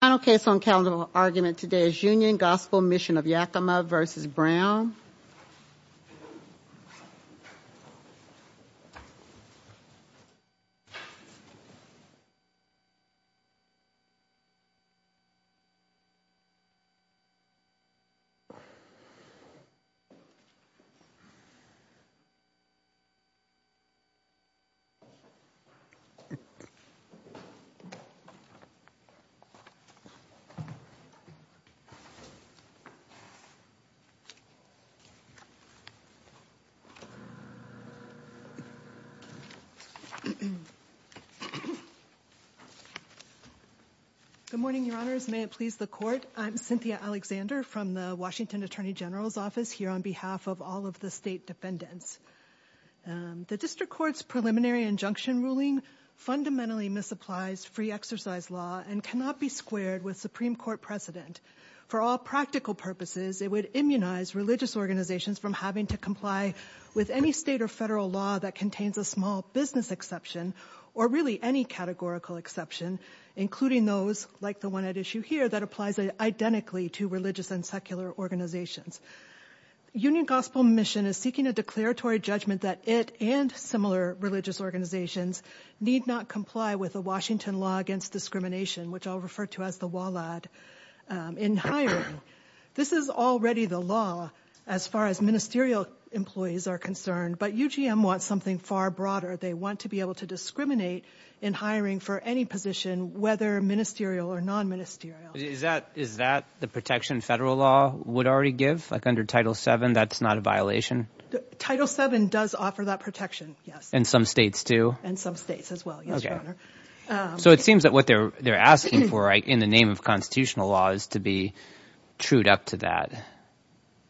Final case on calendar argument today is Union Gospel Mission of Yakima v. Brown Good morning, your honors. May it please the court. I'm Cynthia Alexander from the Washington Attorney General's office here on behalf of all of the state defendants. The district court's preliminary injunction ruling fundamentally misapplies free exercise law and cannot be squared with Supreme Court precedent. For all practical purposes, it would immunize religious organizations from having to comply with any state or federal law that contains a small business exception or really any categorical exception, including those like the one at issue here that applies identically to religious and secular organizations. Union Gospel Mission is seeking a declaratory judgment that it and similar religious organizations need not comply with the Washington law against discrimination, which I'll refer to as the WALAD in hiring. This is already the law as far as ministerial employees are concerned, but UGM wants something far broader. They want to be able to discriminate in hiring for any position, whether ministerial or non-ministerial. Is that the protection federal law would already give, like under Title VII, that's not a violation? Title VII does offer that protection, yes. In some states too? In some states as well, yes, your honor. So it seems that what they're asking for in the name of constitutional law is to be trued up to that.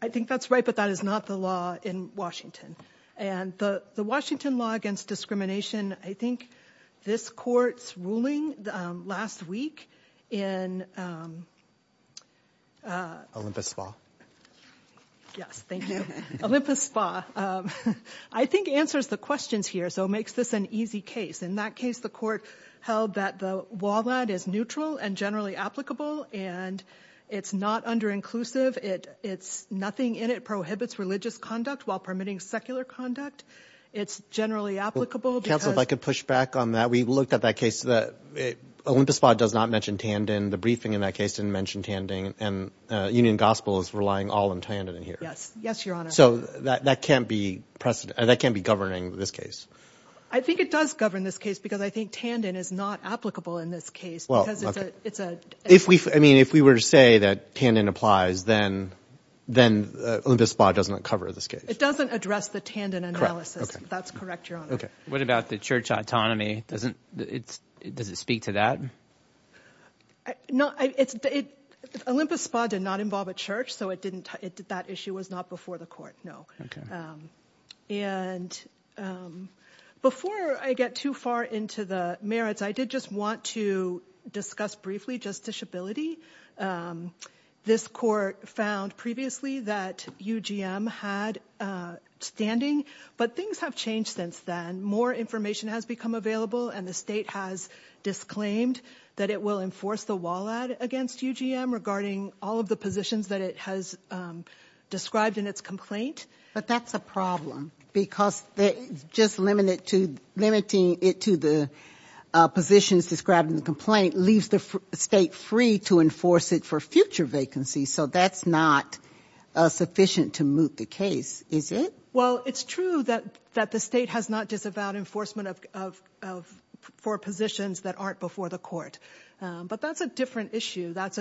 I think that's right, but that is not the law in Washington. And the Washington law against discrimination, I think this court's ruling last week in Olympus Spa. Yes, thank you. Olympus Spa, I think answers the questions here. So it makes this an easy case. In that case, the court held that the WALAD is neutral and generally applicable, and it's not under-inclusive. It's nothing in it prohibits religious conduct while permitting secular conduct. It's generally applicable. Counsel, if I could push back on that. We looked at that case. Olympus Spa does not mention Tandon. The briefing in that case didn't mention Tandon. And Union Gospel is relying all on Tandon in here. Yes, your governing this case. I think it does govern this case because I think Tandon is not applicable in this case. If we were to say that Tandon applies, then Olympus Spa does not cover this case. It doesn't address the Tandon analysis. That's correct, your honor. What about the church autonomy? Does it speak to that? Olympus Spa did not involve a church, so that issue was not before the court, no. And before I get too far into the merits, I did just want to discuss briefly justiciability. This court found previously that UGM had standing, but things have changed since then. More information has become available, and the state has disclaimed that it will enforce the WALAD against UGM regarding all of the positions that it has described in its complaint. But that's a problem because just limiting it to the positions described in the complaint leaves the state free to enforce it for future vacancies, so that's not sufficient to move the case, is it? Well, it's true that the state has not disavowed enforcement of four positions that aren't before the court, but that's a different issue. That's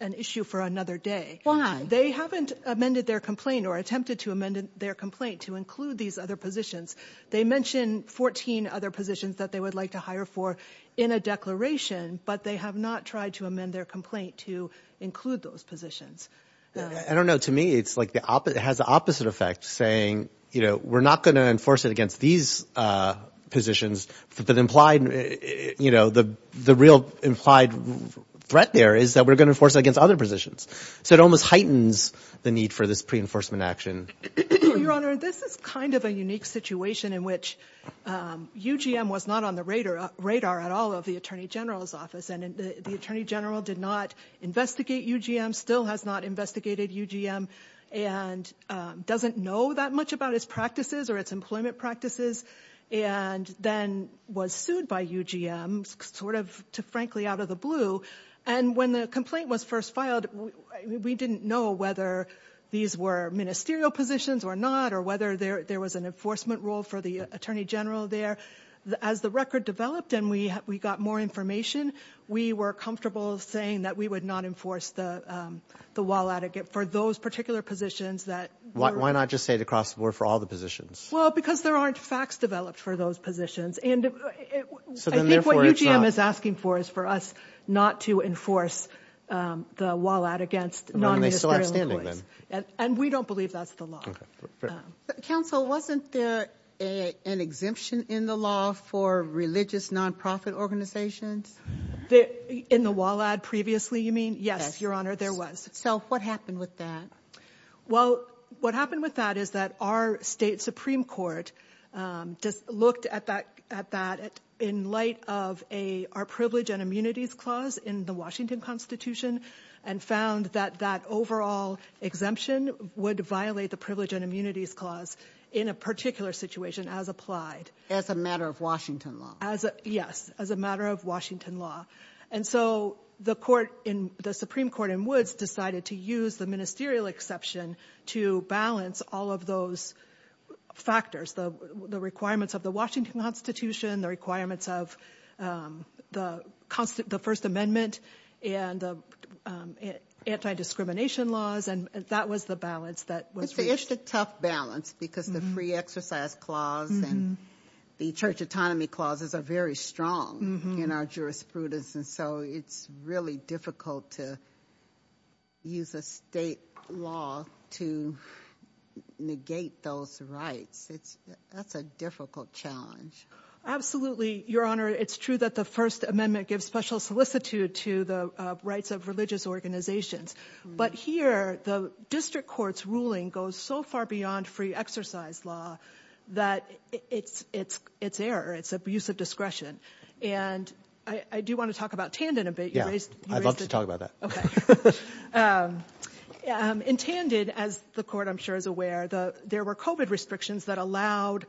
an issue for another day. Why? They haven't amended their complaint or attempted to amend their complaint to include these other positions. They mentioned 14 other positions that they would like to hire for in a declaration, but they have not tried to amend their complaint to include those positions. I don't know. To me, it has the opposite effect, saying, we're not going to enforce it against these positions. The real implied threat there is that we're going to enforce it against other positions. It almost heightens the need for this pre-enforcement action. Your Honor, this is kind of a unique situation in which UGM was not on the radar at all of the Attorney General's office. The Attorney General did not investigate UGM, still has not investigated UGM, and doesn't know that much about its practices or its employment practices, and then was sued by UGM, sort of, frankly, out of the blue. When the complaint was first filed, we didn't know whether these were ministerial positions or not, or whether there was an enforcement role for the Attorney General there. As the record developed and we got more information, we were comfortable saying that we would not enforce the WALAD for those particular positions. Why not just say the crossword for all the positions? Well, because there aren't facts developed for those positions. I think what UGM is asking for is for us not to enforce the WALAD against non-ministerial employees, and we don't believe that's the law. Counsel, wasn't there an exemption in the law for religious non-profit organizations? In the WALAD previously, you mean? Yes, Your Honor, there was. So, what happened with that? Well, what happened with that is that our state Supreme Court just looked at that in light of our Privilege and Immunities Clause in the Washington Constitution and found that that overall exemption would violate the Privilege and Immunities Clause in a particular situation as applied. As a matter of Washington law? Yes, as a matter of Washington law. And so, the Supreme Court in Woods decided to use the ministerial exception to balance all of those factors, the requirements of the Washington Constitution, the requirements of the First Amendment, and the anti-discrimination laws, and that was the balance that was reached. It's a tough balance because the Free Exercise Clause and the Church Autonomy Clauses are very strong in our jurisprudence, and so it's really difficult to use a state law to negate those rights. That's a difficult challenge. Absolutely, Your Honor. It's true that the First Amendment gives special solicitude to the rights of religious organizations, but here the district court's ruling goes so far beyond free exercise law that it's error, it's abuse of discretion. And I do want to talk about Tandon a bit. Yeah, I'd love to talk about that. In Tandon, as the Court, I'm sure, is aware, there were COVID restrictions that allowed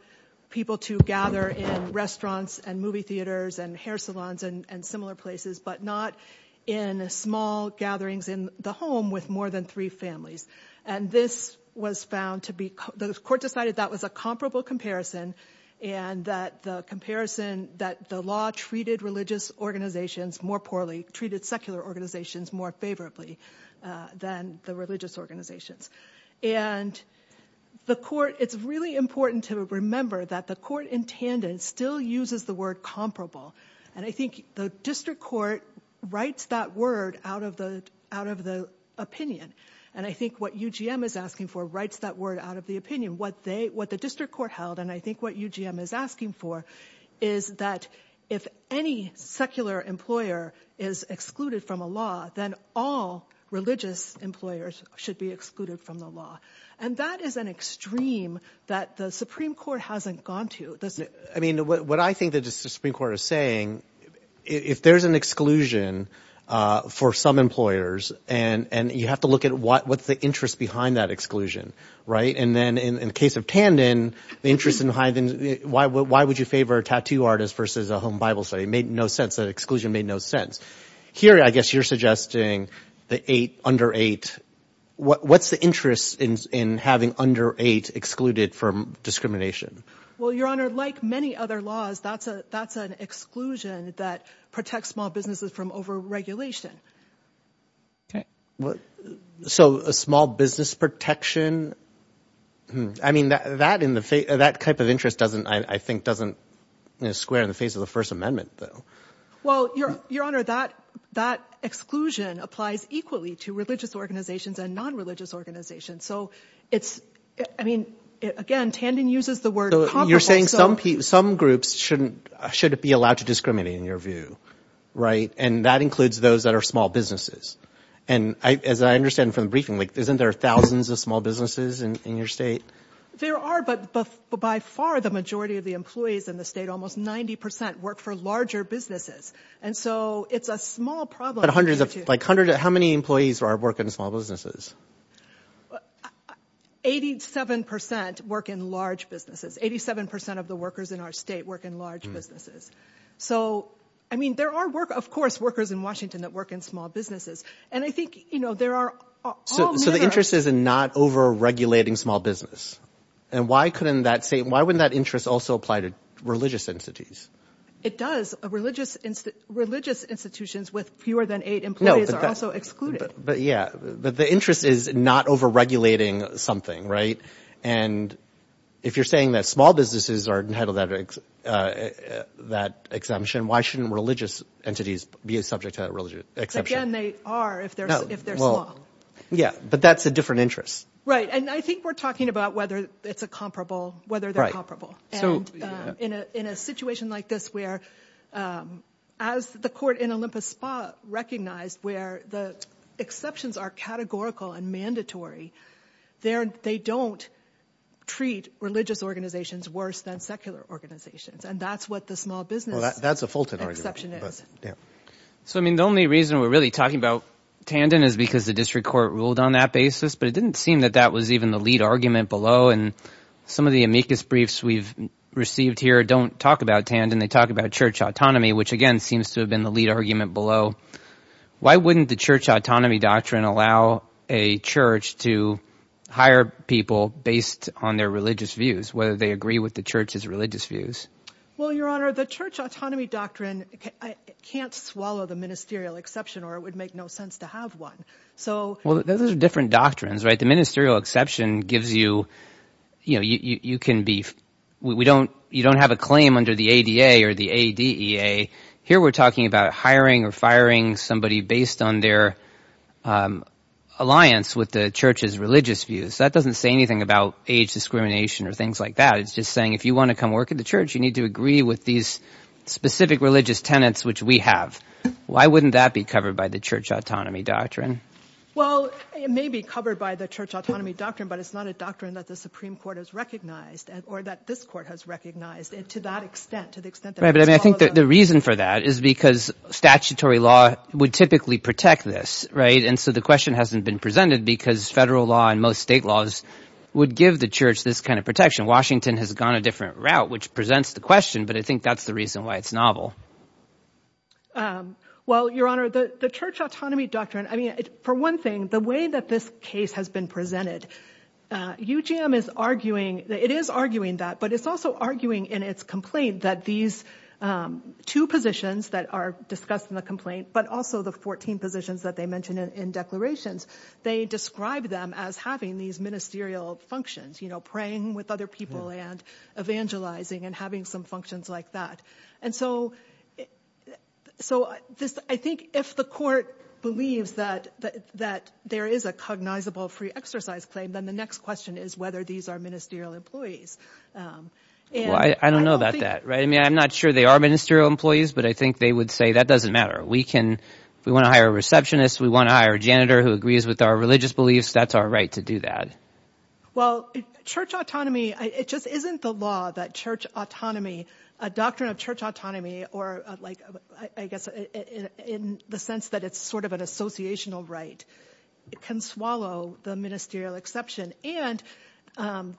people to gather in restaurants, and movie theaters, and hair salons, and similar places, but not in small gatherings in the home with more than three families. And this was found to be, the Court decided that was a comparable comparison, and that the comparison, that the law treated religious organizations more poorly, treated secular organizations more favorably than the organizations. And the Court, it's really important to remember that the Court in Tandon still uses the word comparable, and I think the district court writes that word out of the opinion, and I think what UGM is asking for writes that word out of the opinion. What the district court held, and I think what UGM is asking for, is that if any secular employer is excluded from a law, then all religious employers should be excluded from the law. And that is an extreme that the Supreme Court hasn't gone to, doesn't it? I mean, what I think that the Supreme Court is saying, if there's an exclusion for some employers, and you have to look at what's the interest behind that exclusion, right? And then in the case of Tandon, the interest behind, why would you favor a tattoo artist versus a home Bible study? It made no sense, that exclusion made no sense. Here, I guess you're suggesting the eight, under eight, what's the interest in having under eight excluded from discrimination? Well, Your Honor, like many other laws, that's an exclusion that protects small businesses from over-regulation. Okay. So a small business protection, hmm. I mean, that in the face, that type of interest doesn't, I think, doesn't square in the face of the First Amendment, though. Well, Your Honor, that exclusion applies equally to religious organizations and non-religious organizations. So it's, I mean, again, Tandon uses the word comparable. So you're saying some groups shouldn't, shouldn't be allowed to discriminate in your view, right? And that includes those that are small businesses. And as I understand from the briefing, isn't there thousands of small businesses in your state? There are, but by far the majority of the employees in the state, almost 90% work for larger businesses. And so it's a small problem. But hundreds of, like hundreds, how many employees are working in small businesses? 87% work in large businesses. 87% of the workers in our state work in large businesses. So, I mean, there are workers, of course, workers in Washington that work in small businesses. And I think, you know, there are... So the interest is in not over-regulating small business. And why couldn't that say, why wouldn't that interest also apply to religious entities? It does. Religious institutions with fewer than eight employees are also excluded. But yeah, but the interest is not over-regulating something, right? And if you're saying that small businesses are entitled to that exemption, why shouldn't religious entities be subject to that exemption? Again, they are if they're small. Yeah, but that's a different interest. Right. And I think we're talking about whether it's a comparable, whether they're comparable. So in a situation like this, where as the court in Olympus Spa recognized, where the exceptions are categorical and mandatory, they don't treat religious organizations worse than secular organizations. And that's what the small business exception is. So, I mean, the only reason we're really talking about Tandon is because the district court ruled on that basis, but it didn't seem that that was even the lead argument below. And some of the amicus briefs we've received here don't talk about Tandon. They talk about church autonomy, which again, seems to have been the lead argument below. Why wouldn't the church autonomy doctrine allow a church to hire people based on their religious views, whether they agree with the church's religious views? Well, Your Honor, the church autonomy doctrine can't swallow the ministerial exception or it would make no sense to have one. So, well, those are different doctrines, right? The ministerial exception gives you, you know, you can be, we don't, you don't have a claim under the ADA or the ADEA. Here we're talking about hiring or firing somebody based on their alliance with the church's religious views. That doesn't say anything about age discrimination or things like that. It's just saying if you want to come work at the church, you need to agree with these specific religious tenets, which we have. Why wouldn't that be covered by the church autonomy doctrine? Well, it may be covered by the church autonomy doctrine, but it's not a doctrine that the Supreme Court has recognized or that this court has recognized it to that extent, to the extent. Right. But I think the reason for that is because statutory law would typically protect this, right? And so the question hasn't been presented because federal law and most state laws would give the church this kind of protection. Washington has gone a different route, which presents the question, but I think that's the reason why it's novel. Well, Your Honor, the church autonomy doctrine, I mean, for one thing, the way that this case has been presented, UGM is arguing that it is arguing that, but it's also arguing in its complaint that these two positions that are discussed in the complaint, but also the 14 positions that they mentioned in declarations, they describe them as having these ministerial functions, you know, with other people and evangelizing and having some functions like that. And so I think if the court believes that there is a cognizable free exercise claim, then the next question is whether these are ministerial employees. I don't know about that, right? I mean, I'm not sure they are ministerial employees, but I think they would say that doesn't matter. We can, if we want to hire a receptionist, we want to hire a janitor who agrees with our religious beliefs. That's our right to do that. Well, church autonomy, it just isn't the law that church autonomy, a doctrine of church autonomy, or like, I guess, in the sense that it's sort of an associational right, it can swallow the ministerial exception and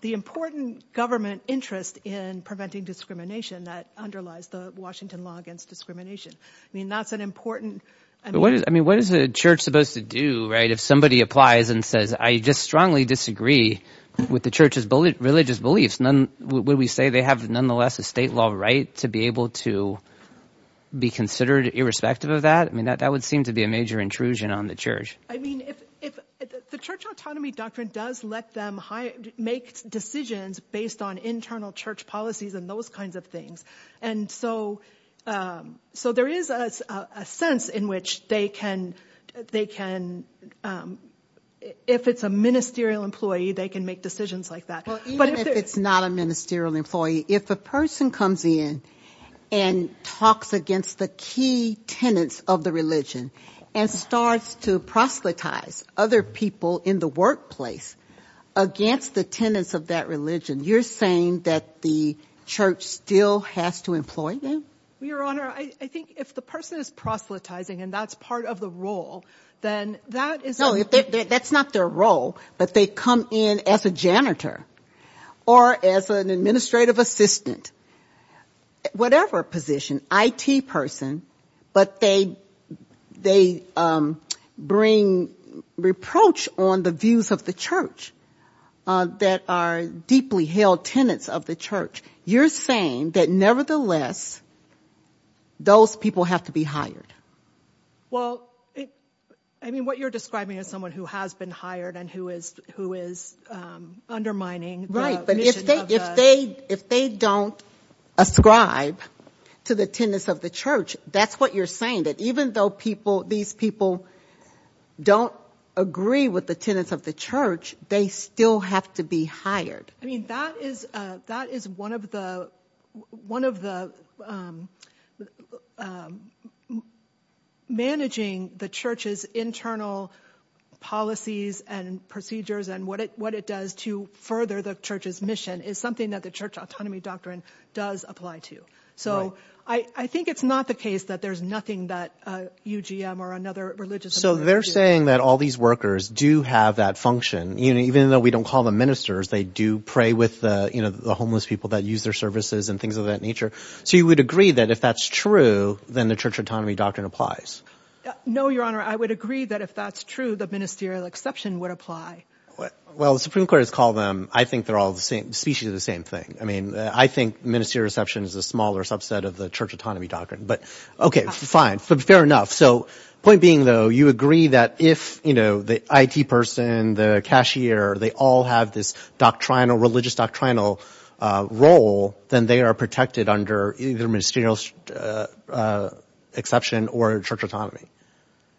the important government interest in preventing discrimination that underlies the Washington law against discrimination. I mean, that's an important... I mean, what is a church supposed to do, right? If somebody applies and says, I just strongly disagree with the church's religious beliefs, would we say they have nonetheless a state law right to be able to be considered irrespective of that? I mean, that would seem to be a major intrusion on the church. I mean, if the church autonomy doctrine does let them make decisions based on internal church employee, they can make decisions like that. Well, even if it's not a ministerial employee, if a person comes in and talks against the key tenants of the religion and starts to proselytize other people in the workplace against the tenants of that religion, you're saying that the church still has to employ them? Your Honor, I think if the person is proselytizing and that's part of the role, then that is... That's not their role, but they come in as a janitor or as an administrative assistant, whatever position, IT person, but they bring reproach on the views of the church that are deeply held tenants of the church. You're saying that nevertheless, those people have to be hired? Well, I mean, what you're describing is someone who has been hired and who is undermining... Right, but if they don't ascribe to the tenants of the church, that's what you're saying, that even though these people don't agree with the tenants of the church, they still have to be hired. I mean, that is one of the... Managing the church's internal policies and procedures and what it does to further the church's mission is something that the church autonomy doctrine does apply to. So I think it's not the case that there's nothing that UGM or another religious... So they're saying that all these workers do have that function, even though we don't call them ministers, they do pray with the homeless people that use their services and things of that nature. So you would agree that if that's true, then the church autonomy doctrine applies? No, Your Honor, I would agree that if that's true, the ministerial exception would apply. Well, the Supreme Court has called them, I think they're all the same species of the same thing. I mean, I think ministerial exception is a smaller subset of the church autonomy doctrine, but okay, fine, fair enough. So point being though, you agree that if the IT person, the cashier, they all have this doctrinal, religious doctrinal role, then they are protected under either ministerial exception or church autonomy?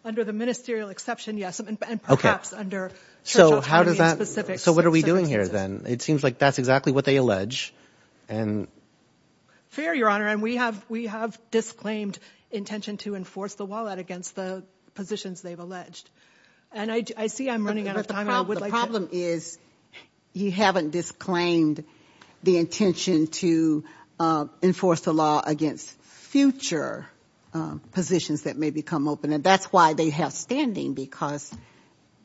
Under the ministerial exception, yes, and perhaps under church autonomy in specific circumstances. So what are we doing here then? It seems like that's exactly what they allege. Fair, Your Honor, and we have disclaimed intention to enforce the wallet against the positions they've alleged. And I see I'm running out of time. The problem is you haven't disclaimed the intention to enforce the law against future positions that may become open. And that's why they have standing because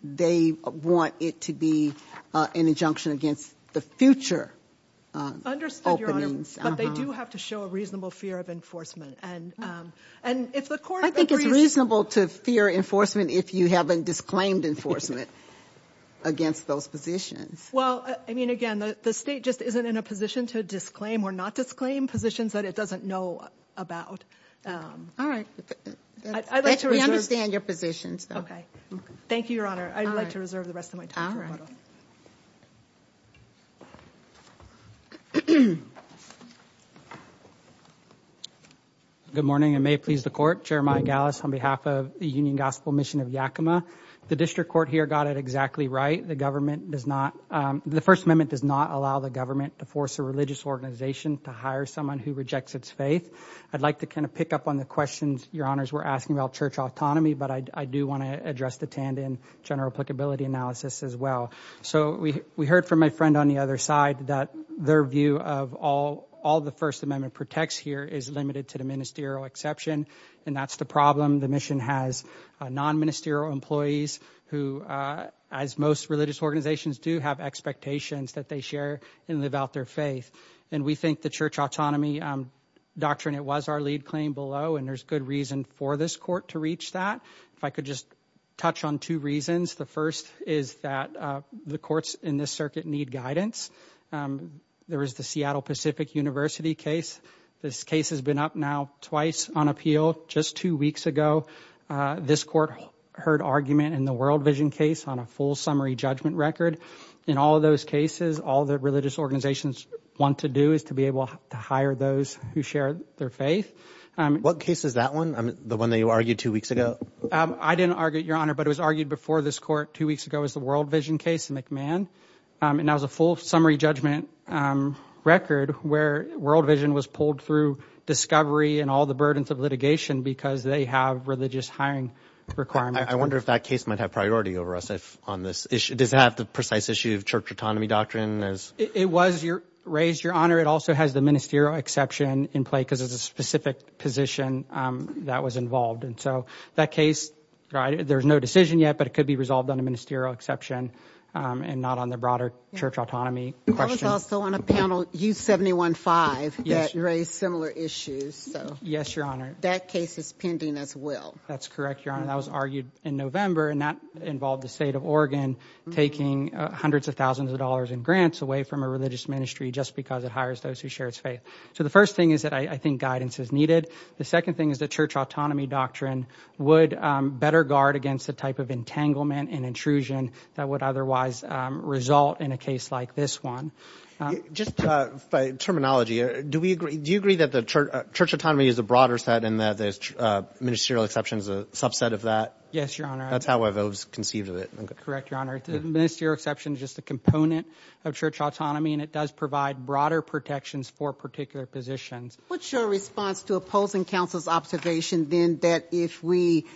they want it to be an injunction against the future openings. Understood, Your Honor, but they do have to show a reasonable fear of enforcement. And if the court agrees... I think it's reasonable to fear enforcement if you haven't disclaimed enforcement against those positions. Well, I mean, again, the state just isn't in a position to disclaim or not disclaim positions that it doesn't know about. All right. We understand your positions, though. Okay. Thank you, Your Honor. I'd like to reserve the rest of my time. Good morning. I may please the court. Jeremiah Gallus on behalf of the Union Gospel Mission of Yakima. The district court here got it exactly right. The government does not, the First Amendment does not allow the government to force a religious organization to hire someone who rejects its faith. I'd like to kind of pick up on the questions Your Honors were asking about church autonomy, but I do want to address the tandem general applicability analysis as well. So we heard from my friend on the other side that their view of all the First Amendment protects here is limited to the ministerial exception. And that's the problem. The mission has non-ministerial employees who, as most religious organizations do, have expectations that they share and live out their faith. And we think the church autonomy doctrine, it was our lead claim and there's good reason for this court to reach that. If I could just touch on two reasons. The first is that the courts in this circuit need guidance. There is the Seattle Pacific University case. This case has been up now twice on appeal just two weeks ago. This court heard argument in the World Vision case on a full summary judgment record. In all of those cases, all the religious What case is that one? The one that you argued two weeks ago? I didn't argue, Your Honor, but it was argued before this court two weeks ago as the World Vision case in McMahon. And that was a full summary judgment record where World Vision was pulled through discovery and all the burdens of litigation because they have religious hiring requirements. I wonder if that case might have priority over us on this issue. Does it have the precise issue of church autonomy doctrine? It was raised, Your Honor. It also has the position that was involved. And so that case, there's no decision yet, but it could be resolved on a ministerial exception and not on the broader church autonomy. I was also on a panel, U715, that raised similar issues. Yes, Your Honor. That case is pending as well. That's correct, Your Honor. That was argued in November and that involved the state of Oregon taking hundreds of thousands of dollars in grants away from a religious ministry just because it hires those who share its faith. So the first thing is that I think guidance is needed. The second thing is that church autonomy doctrine would better guard against the type of entanglement and intrusion that would otherwise result in a case like this one. Just by terminology, do you agree that the church autonomy is a broader set and that the ministerial exception is a subset of that? Yes, Your Honor. That's how I've always conceived of it. Correct, Your Honor. The ministerial is just a component of church autonomy and it does provide broader protections for particular positions. What's your response to opposing counsel's observation then that if we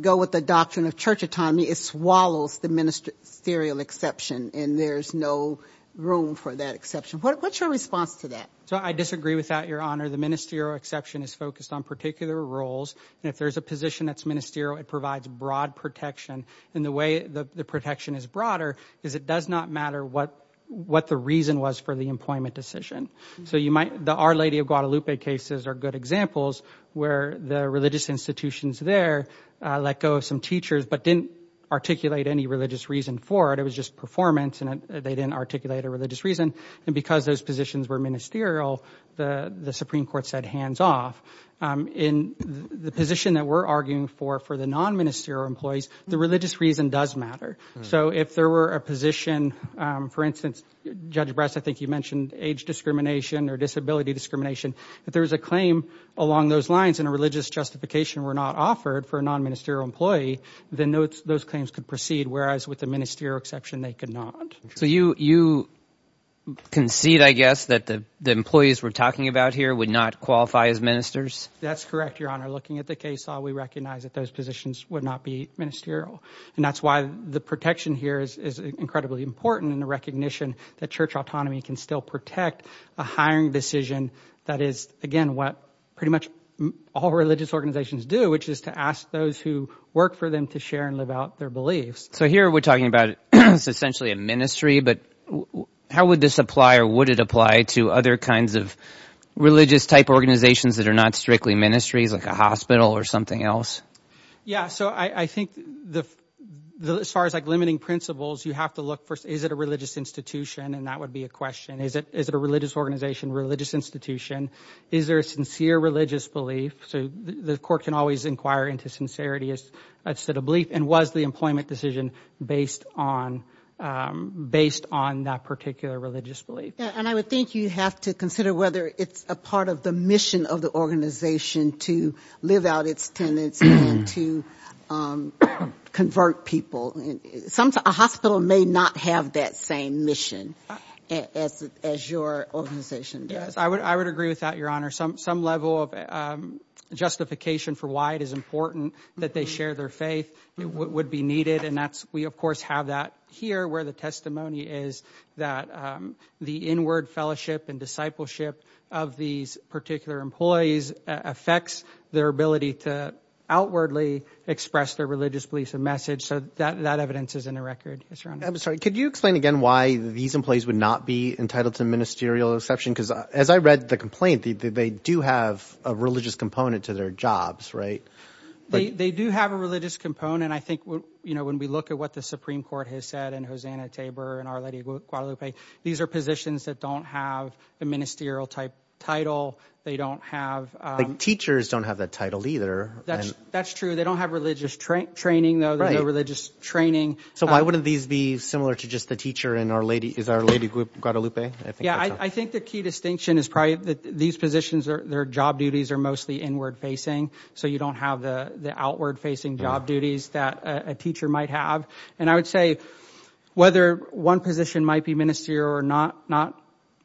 go with the doctrine of church autonomy, it swallows the ministerial exception and there's no room for that exception? What's your response to that? So I disagree with that, Your Honor. The ministerial exception is focused on particular roles and if there's a position that's ministerial, it provides broad protection. And the way the protection is broader is it does not matter what the reason was for the employment decision. So the Our Lady of Guadalupe cases are good examples where the religious institutions there let go of some teachers but didn't articulate any religious reason for it. It was just performance and they didn't articulate a religious reason. And because those positions were ministerial, the Supreme Court said hands off. In the position that we're arguing for, for the non-ministerial employees, the religious reason does matter. So if there were a position, for instance, Judge Bress, I think you mentioned age discrimination or disability discrimination. If there was a claim along those lines and a religious justification were not offered for a non-ministerial employee, then those claims could proceed. Whereas with the ministerial exception, they could not. So you concede, I guess, that the employees we're talking about here would qualify as ministers? That's correct, Your Honor. Looking at the case law, we recognize that those positions would not be ministerial. And that's why the protection here is incredibly important in the recognition that church autonomy can still protect a hiring decision that is, again, what pretty much all religious organizations do, which is to ask those who work for them to share and live out their beliefs. So here we're talking about essentially a ministry, but how would this apply to other kinds of religious-type organizations that are not strictly ministries, like a hospital or something else? Yeah, so I think as far as limiting principles, you have to look first, is it a religious institution? And that would be a question. Is it a religious organization, religious institution? Is there a sincere religious belief? So the court can always inquire into sincerity instead of belief. And was the employment decision based on that particular religious belief? And I would think you have to consider whether it's a part of the mission of the organization to live out its tenets and to convert people. Sometimes a hospital may not have that same mission as your organization does. Yes, I would agree with that, Your Honor. Some level of justification for why it is important that they share their faith would be needed. And that's, of course, have that here where the testimony is that the inward fellowship and discipleship of these particular employees affects their ability to outwardly express their religious beliefs and message. So that evidence is in the record. I'm sorry, could you explain again why these employees would not be entitled to ministerial exception? Because as I read the complaint, they do have a religious component to their jobs, right? They do have a religious component. I think, you know, when we look at what the Supreme Court has said and Hosanna Tabor and Our Lady Guadalupe, these are positions that don't have the ministerial type title. They don't have... Teachers don't have that title either. That's true. They don't have religious training, though. There's no religious training. So why wouldn't these be similar to just the teacher in Our Lady Guadalupe? Yeah, I think the key distinction is probably that these positions, their job duties are mostly inward facing. So you don't have the outward facing job duties that a teacher might have. And I would say whether one position might be ministerial or not, not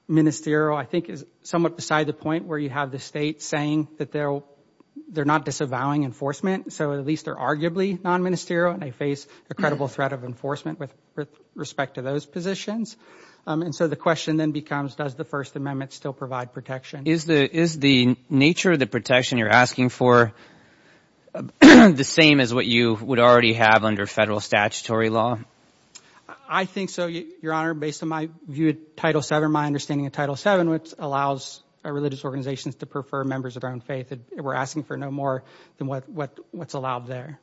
ministerial, I think is somewhat beside the point where you have the state saying that they're not disavowing enforcement. So at least they're arguably non-ministerial and they face a credible threat of enforcement with respect to those positions. And so the question then becomes, does the First Amendment still provide protection? Is the nature of the protection you're asking for the same as what you would already have under federal statutory law? I think so, Your Honor, based on my view of Title VII, my understanding of Title VII, which allows religious organizations to prefer members of their own faith. We're asking for no more than what's allowed there.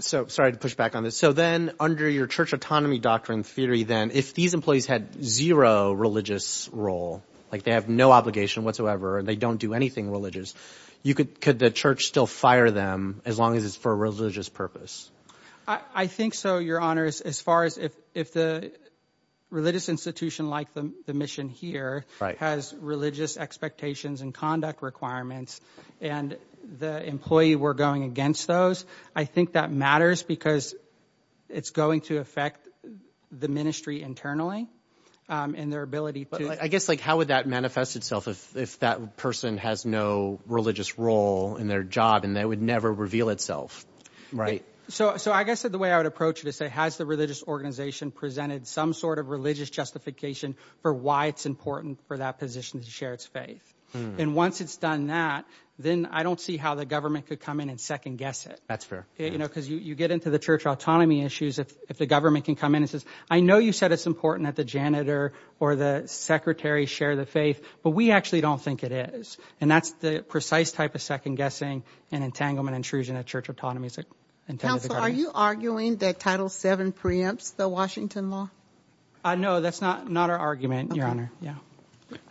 So sorry to push back on this. So then under your church autonomy doctrine theory, then if these employees had zero religious role, like they have no obligation whatsoever and they don't do anything religious, could the church still fire them as long as it's for a religious purpose? I think so, Your Honor, as far as if the religious institution like the mission here has religious expectations and conduct requirements and the employee were going against those, I think that matters because it's going to affect the ministry internally and their ability. I guess like how would that manifest itself if that person has no religious role in their job and that would never reveal itself, right? So I guess that the way I would approach it is say, has the religious organization presented some sort of religious justification for why it's important for that position to share its faith? And once it's done that, then I don't see how the government could come in and second-guess it. That's fair. You know, because you get into the church autonomy issues if the government can come in and says, I know you said it's important that the janitor or the secretary share the faith, but we actually don't think it is. And that's the precise type of second-guessing and entanglement intrusion that church autonomy is intended for. Counsel, are you arguing that Title VII preempts the Washington law? No, that's not our argument, Your Honor. Yeah.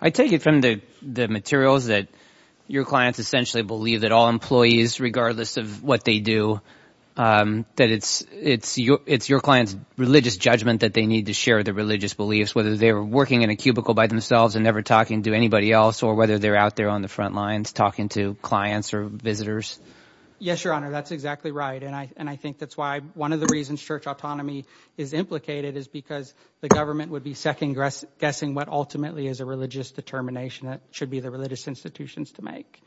I take it from the materials that your clients essentially believe that all employees, regardless of what they do, that it's your client's religious judgment that they need to share their religious beliefs, whether they're working in a cubicle by themselves and never talking to anybody else or whether they're out there on the front lines talking to clients or visitors. Yes, Your Honor, that's exactly right. And I think that's why one of the reasons church autonomy is implicated is because the government would be second-guessing what ultimately is a religious determination that should be the religious institutions to make.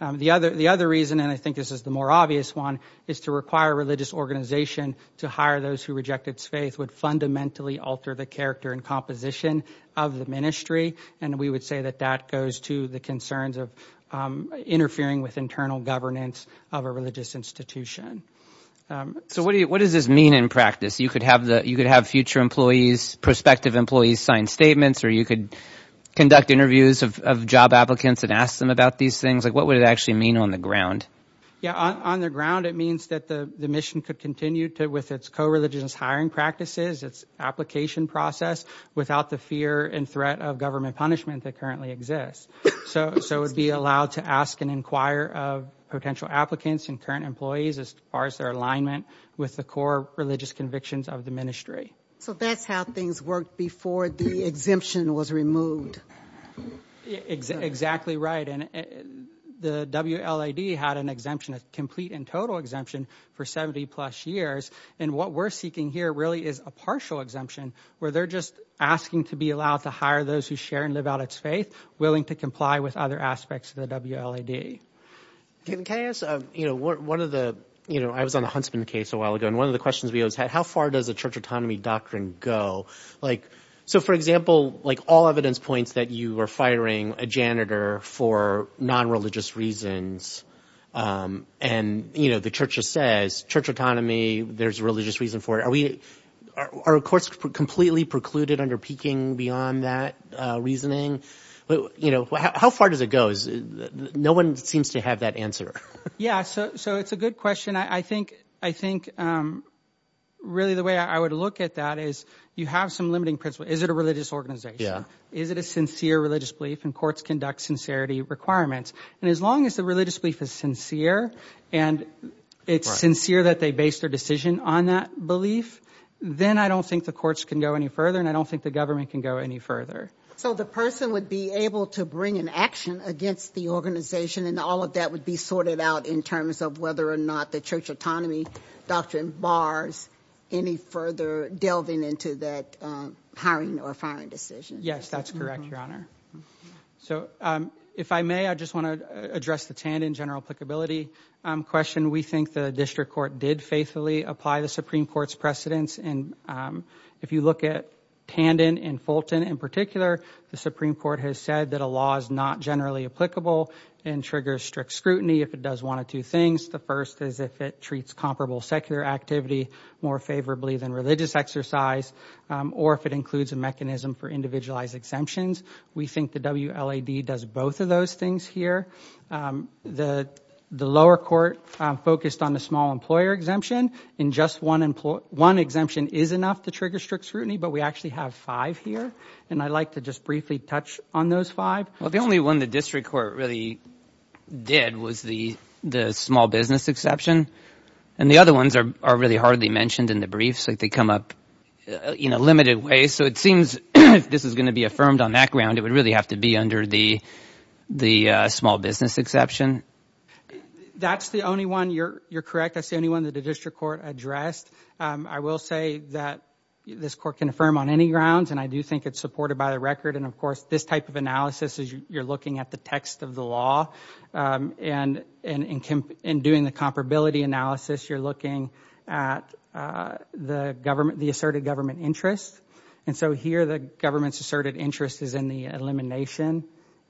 The other reason, and I think this is the more obvious one, is to require a religious organization to hire those who reject its faith would fundamentally alter the character and composition of the ministry. And we would say that that goes to the concerns of interfering with internal governance of a religious institution. So what does this mean in practice? You could have future employees, prospective employees, sign statements, or you could conduct interviews of job applicants and ask them about these things. Like, what would it actually mean on the ground? Yeah, on the ground, it means that the mission could continue with its co-religious hiring practices, its application process without the fear and threat of government punishment that currently exists. So it would be allowed to ask and inquire of potential applicants and current employees as far as their alignment with the core convictions of the ministry. So that's how things worked before the exemption was removed. Exactly right. And the WLAD had an exemption, a complete and total exemption for 70 plus years. And what we're seeking here really is a partial exemption where they're just asking to be allowed to hire those who share and live out its faith, willing to comply with other aspects of the WLAD. Can I ask, you know, one of the, you know, I was on the Huntsman case a while ago, and one of the questions we always had, how far does a church autonomy doctrine go? Like, so for example, like all evidence points that you are firing a janitor for non-religious reasons and, you know, the church says church autonomy, there's religious reason for it. Are we, are courts completely precluded under peaking beyond that reasoning? But, you know, how far does it go? No one seems to have that answer. Yeah, so it's a good question. I think, I think really the way I would look at that is you have some limiting principles. Is it a religious organization? Yeah. Is it a sincere religious belief? And courts conduct sincerity requirements. And as long as the religious belief is sincere and it's sincere that they base their decision on that belief, then I don't think the courts can go any further. And I don't think the government can go any further. So the person would be able to bring an action against the organization and all of that would be sorted out in terms of whether or not the church autonomy doctrine bars any further delving into that hiring or firing decision. Yes, that's correct, Your Honor. So if I may, I just want to address the Tandon general applicability question. We think the district court did faithfully apply the Supreme Court's precedents. And if you look at Tandon and Fulton in particular, the Supreme Court has said that a law is not generally applicable and triggers strict scrutiny if it does one of two things. The first is if it treats comparable secular activity more favorably than religious exercise or if it includes a mechanism for individualized exemptions. We think the WLAD does both of those things here. The lower court focused on the small employer exemption and just one exemption is enough to trigger strict scrutiny, but we actually have five here. And I'd like to just briefly touch on those five. Well, the only one the district court really did was the small business exception. And the other ones are really hardly mentioned in the briefs. They come up in a limited way. So it seems if this is going to be affirmed on that ground, it would really have to be under the small business exception. That's the only one. You're correct. That's the only one that the district court addressed. I will say that this court can affirm on any grounds and I do think it's supported by the record. And of course, this type of analysis is you're looking at the text of the law and in doing the comparability analysis, you're looking at the asserted government interest. And so here the government's asserted interest is in the elimination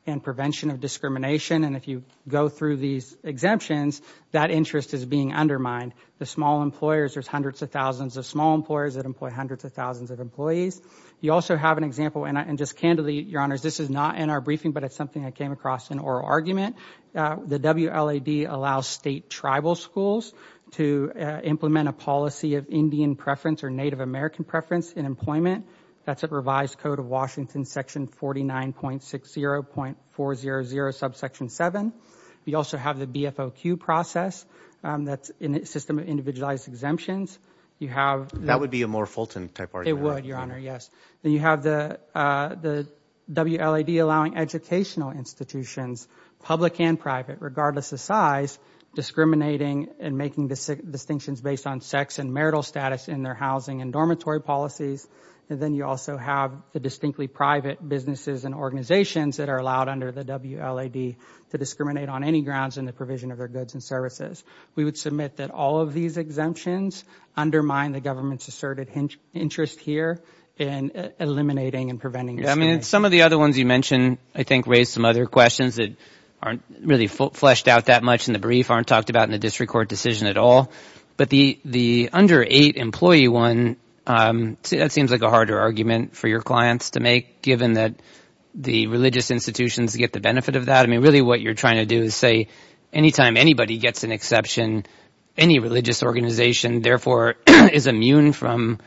and prevention of discrimination. And if you go through these exemptions, that interest is being undermined. The small employers, there's hundreds of thousands of small employers that employ hundreds of employees. You also have an example, and just candidly, Your Honors, this is not in our briefing, but it's something I came across in oral argument. The WLAD allows state tribal schools to implement a policy of Indian preference or Native American preference in employment. That's a revised code of Washington section 49.60.400 subsection seven. We also have the BFOQ process that's system of individualized exemptions. That would be a more Fulton type argument. It would, Your Honor, yes. Then you have the WLAD allowing educational institutions, public and private, regardless of size, discriminating and making distinctions based on sex and marital status in their housing and dormitory policies. And then you also have the distinctly private businesses and organizations that are allowed under the WLAD to discriminate on any grounds in the provision of their goods and services. We would submit that all of these exemptions undermine the government's asserted interest here in eliminating and preventing. Yeah, I mean, some of the other ones you mentioned, I think, raise some other questions that aren't really fleshed out that much in the brief, aren't talked about in the district court decision at all. But the under eight employee one, that seems like a harder argument for your clients to make, given that the religious institutions get the benefit of that. I mean, really what you're trying to do is say anytime anybody gets an exception, any religious organization, therefore, is immune from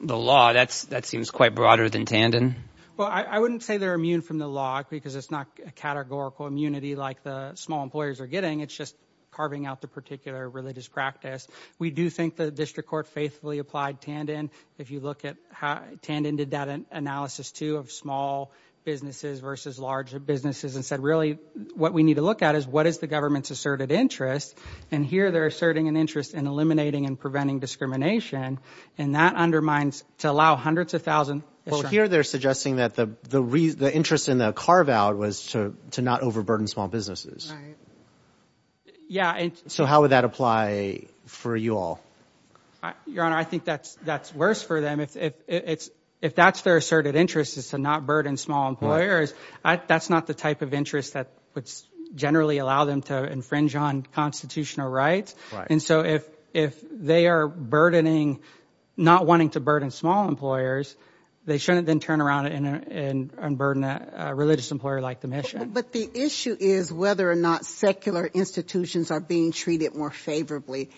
the law. That's that seems quite broader than Tandon. Well, I wouldn't say they're immune from the law because it's not a categorical immunity like the small employers are getting. It's just carving out the particular religious practice. We do think the district court faithfully applied Tandon. If you look at how Tandon did that analysis to have small businesses versus larger businesses and said, really, what we need to look at is what is the government's asserted interest. And here they're asserting an interest in eliminating and preventing discrimination. And that undermines to allow hundreds of thousands. Well, here they're suggesting that the the the interest in the carve out was to to not overburden small businesses. Yeah. So how would that apply for you all? Your Honor, I think that's that's worse for them if it's if that's their asserted interest is to not burden small employers. That's not the type of interest that would generally allow them to infringe on constitutional rights. And so if if they are burdening, not wanting to burden small employers, they shouldn't then turn around and burden a religious employer like the mission. But the issue is whether or not secular institutions are being treated more favorably.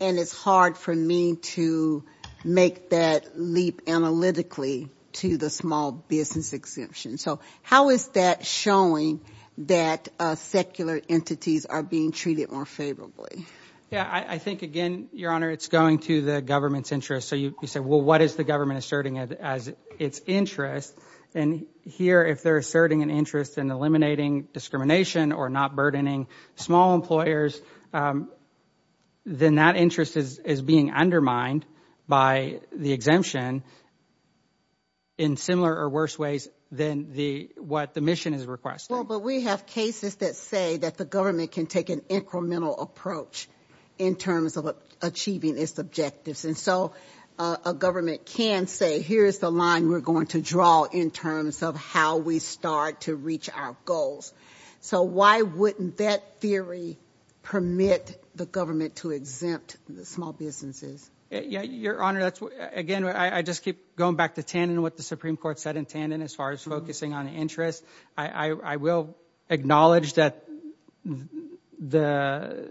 And it's hard for me to make that leap analytically to the small business exemption. So how is that showing that secular entities are being treated more favorably? Yeah, I think, again, Your Honor, it's going to the government's interest. So you say, well, what is the government asserting as its interest? And here, if they're asserting an interest in eliminating discrimination or not burdening small employers, then that interest is is being undermined by the exemption. In similar or worse ways than the what the mission is requested, but we have cases that say that the government can take an incremental approach in terms of achieving its objectives, and so a government can say, here's the line we're going to draw in terms of how we start to reach our goals. So why wouldn't that theory permit the government to exempt the small businesses? Yeah, Your Honor, that's again, I just keep going back to Tandon, what the Supreme Court said in Tandon, as far as focusing on interest. I will acknowledge that the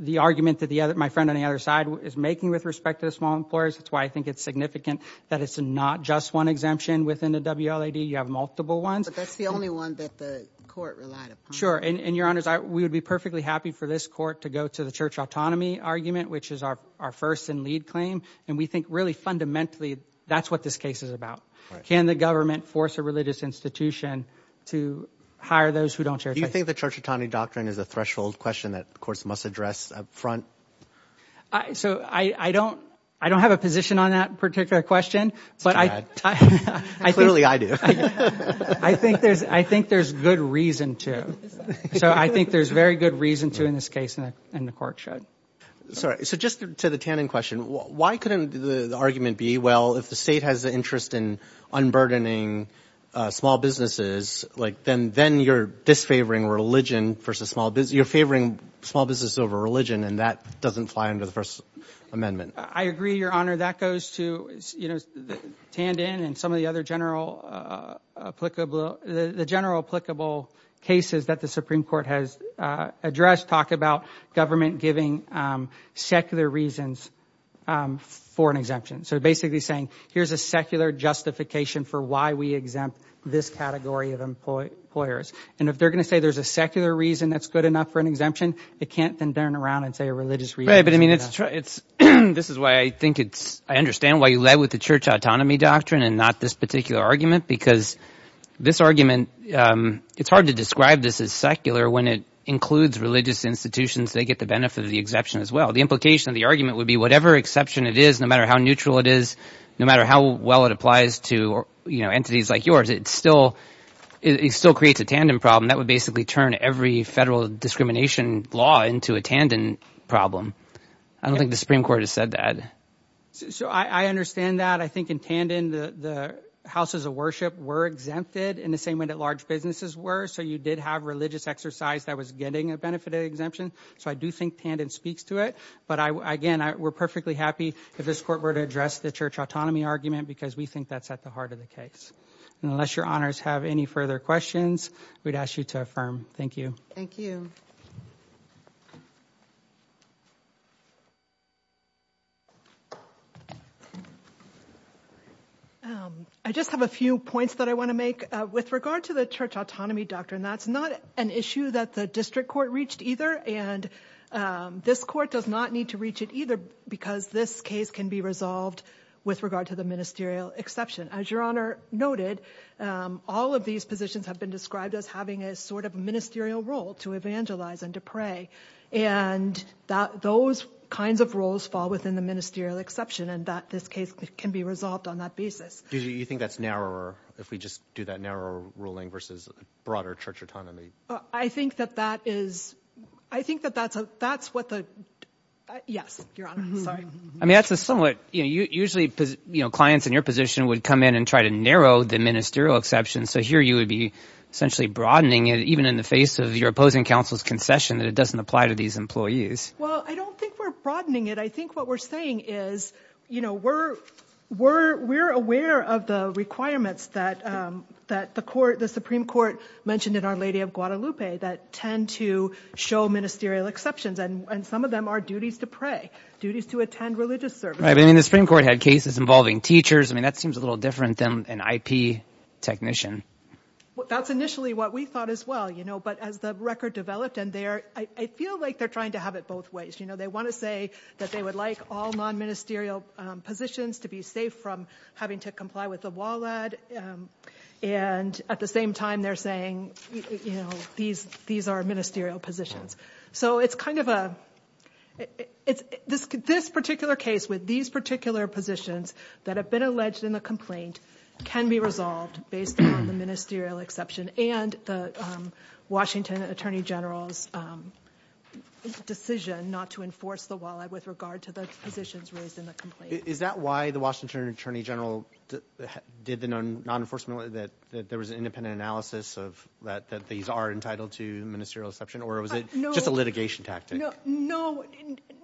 the argument that the other my friend on the other side is making with respect to the employers. That's why I think it's significant that it's not just one exemption within the WLAD. You have multiple ones. But that's the only one that the court relied on. Sure. And Your Honor, we would be perfectly happy for this court to go to the church autonomy argument, which is our first and lead claim. And we think really fundamentally, that's what this case is about. Can the government force a religious institution to hire those who don't share? I think the church autonomy doctrine is a threshold question that, of course, must address up front. So I don't I don't have a position on that particular question, but I clearly I do. I think there's I think there's good reason to. So I think there's very good reason to in this case. And the court should. Sorry. So just to the Tandon question, why couldn't the argument be? Well, if the state has an interest in unburdening small businesses, like then then you're disfavoring religion versus small business. You're favoring small business over religion. And that doesn't fly under the First Amendment. I agree, Your Honor, that goes to, you know, Tandon and some of the other general applicable the general applicable cases that the Supreme Court has addressed. Talk about government giving secular reasons for an exemption. So basically saying here's a secular justification for why we exempt this category of employers. And if they're going to say there's a secular reason that's good enough for an exemption, it can't then turn around and say a religious. Right. But I mean, it's it's this is why I think it's I understand why you led with the church autonomy doctrine and not this particular argument, because this argument it's hard to describe this as secular when it includes religious institutions. They get the benefit of the exemption as well. The implication of the argument would be whatever exception it is, no matter how neutral it is, no matter how well it applies to entities like it's still it still creates a tandem problem that would basically turn every federal discrimination law into a tandem problem. I don't think the Supreme Court has said that. So I understand that. I think in Tandon, the houses of worship were exempted in the same way that large businesses were. So you did have religious exercise that was getting a benefit exemption. So I do think Tandon speaks to it. But again, we're perfectly happy if this court were to address the church autonomy argument, because we think that's at the heart of the case. And unless your honors have any further questions, we'd ask you to affirm. Thank you. Thank you. I just have a few points that I want to make with regard to the church autonomy doctrine. That's not an issue that the district court reached either. And this court does not need to reach it either, because this case can be resolved with regard to the ministerial exception. As your honor noted, all of these positions have been described as having a sort of ministerial role to evangelize and to pray. And that those kinds of roles fall within the ministerial exception and that this case can be resolved on that basis. Do you think that's narrower if we just do that narrow ruling versus broader church autonomy? I think that that is, I think that that's what the, yes, your honor. Sorry. I mean, that's a somewhat, you know, clients in your position would come in and try to narrow the ministerial exception. So here you would be essentially broadening it, even in the face of your opposing counsel's concession that it doesn't apply to these employees. Well, I don't think we're broadening it. I think what we're saying is, you know, we're aware of the requirements that the Supreme Court mentioned in Our Lady of Guadalupe that tend to show ministerial exceptions. And some of them are involving teachers. I mean, that seems a little different than an IP technician. That's initially what we thought as well, you know, but as the record developed and there, I feel like they're trying to have it both ways. You know, they want to say that they would like all non-ministerial positions to be safe from having to comply with the WALAD. And at the same time, they're saying, you know, these are ministerial positions. So it's kind of a, it's this particular case with these particular positions that have been alleged in the complaint can be resolved based on the ministerial exception and the Washington Attorney General's decision not to enforce the WALAD with regard to the positions raised in the complaint. Is that why the Washington Attorney General did the non-enforcement, that there was an independent analysis of that, that these are entitled to ministerial exception, or was it just a litigation tactic? No, no,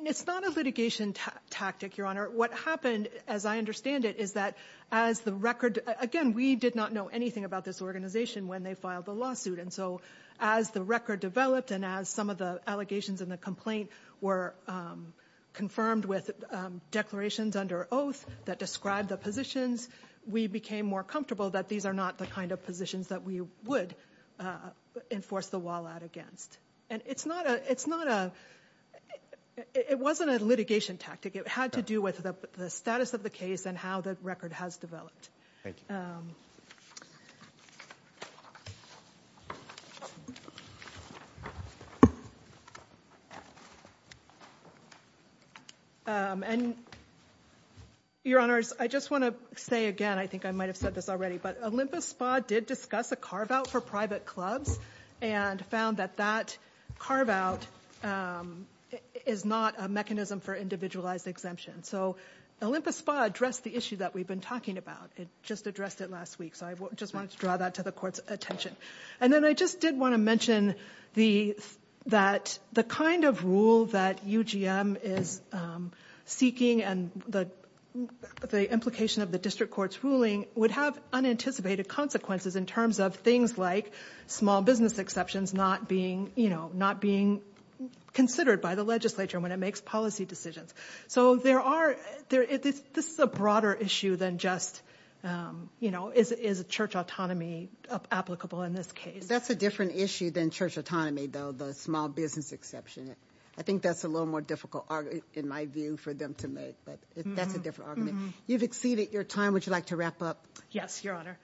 it's not a litigation tactic, Your Honor. What happened, as I understand it, is that as the record, again, we did not know anything about this organization when they filed the lawsuit. And so as the record developed and as some of the allegations in the complaint were confirmed with declarations under oath that described the positions, we became more comfortable that these are not the kind of that we would enforce the WALAD against. And it's not a, it wasn't a litigation tactic. It had to do with the status of the case and how the record has developed. And Your Honors, I just want to say again, I think I might have said this already, but Olympus Spa did discuss a carve-out for private clubs and found that that carve-out is not a mechanism for individualized exemption. So Olympus Spa addressed the issue that we've been talking about. It just addressed it last week. So I just wanted to draw that to the Court's attention. And then I just did want to mention that the kind of rule that UGM is seeking and the implication of the District Court's ruling would have unanticipated consequences in terms of things like small business exceptions not being, you know, not being considered by the legislature when it makes policy decisions. So there are, this is a broader issue than just, you know, is church autonomy applicable in this case? That's a different issue than church autonomy, though, the small business exception. I think that's a little more difficult in my view for them to make, but that's a different argument. You've exceeded your time. Would you like to wrap up? Yes, Your Honor.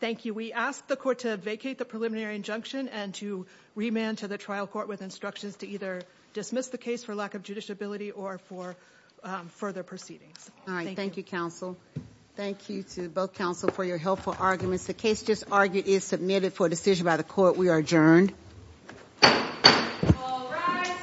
Thank you. We ask the Court to vacate the preliminary injunction and to remand to the trial court with instructions to either dismiss the case for lack of judiciability or for further proceedings. All right. Thank you, Counsel. Thank you to both Counsel for your helpful arguments. The case just argued is submitted for decision by the Court. We are adjourned. All rise.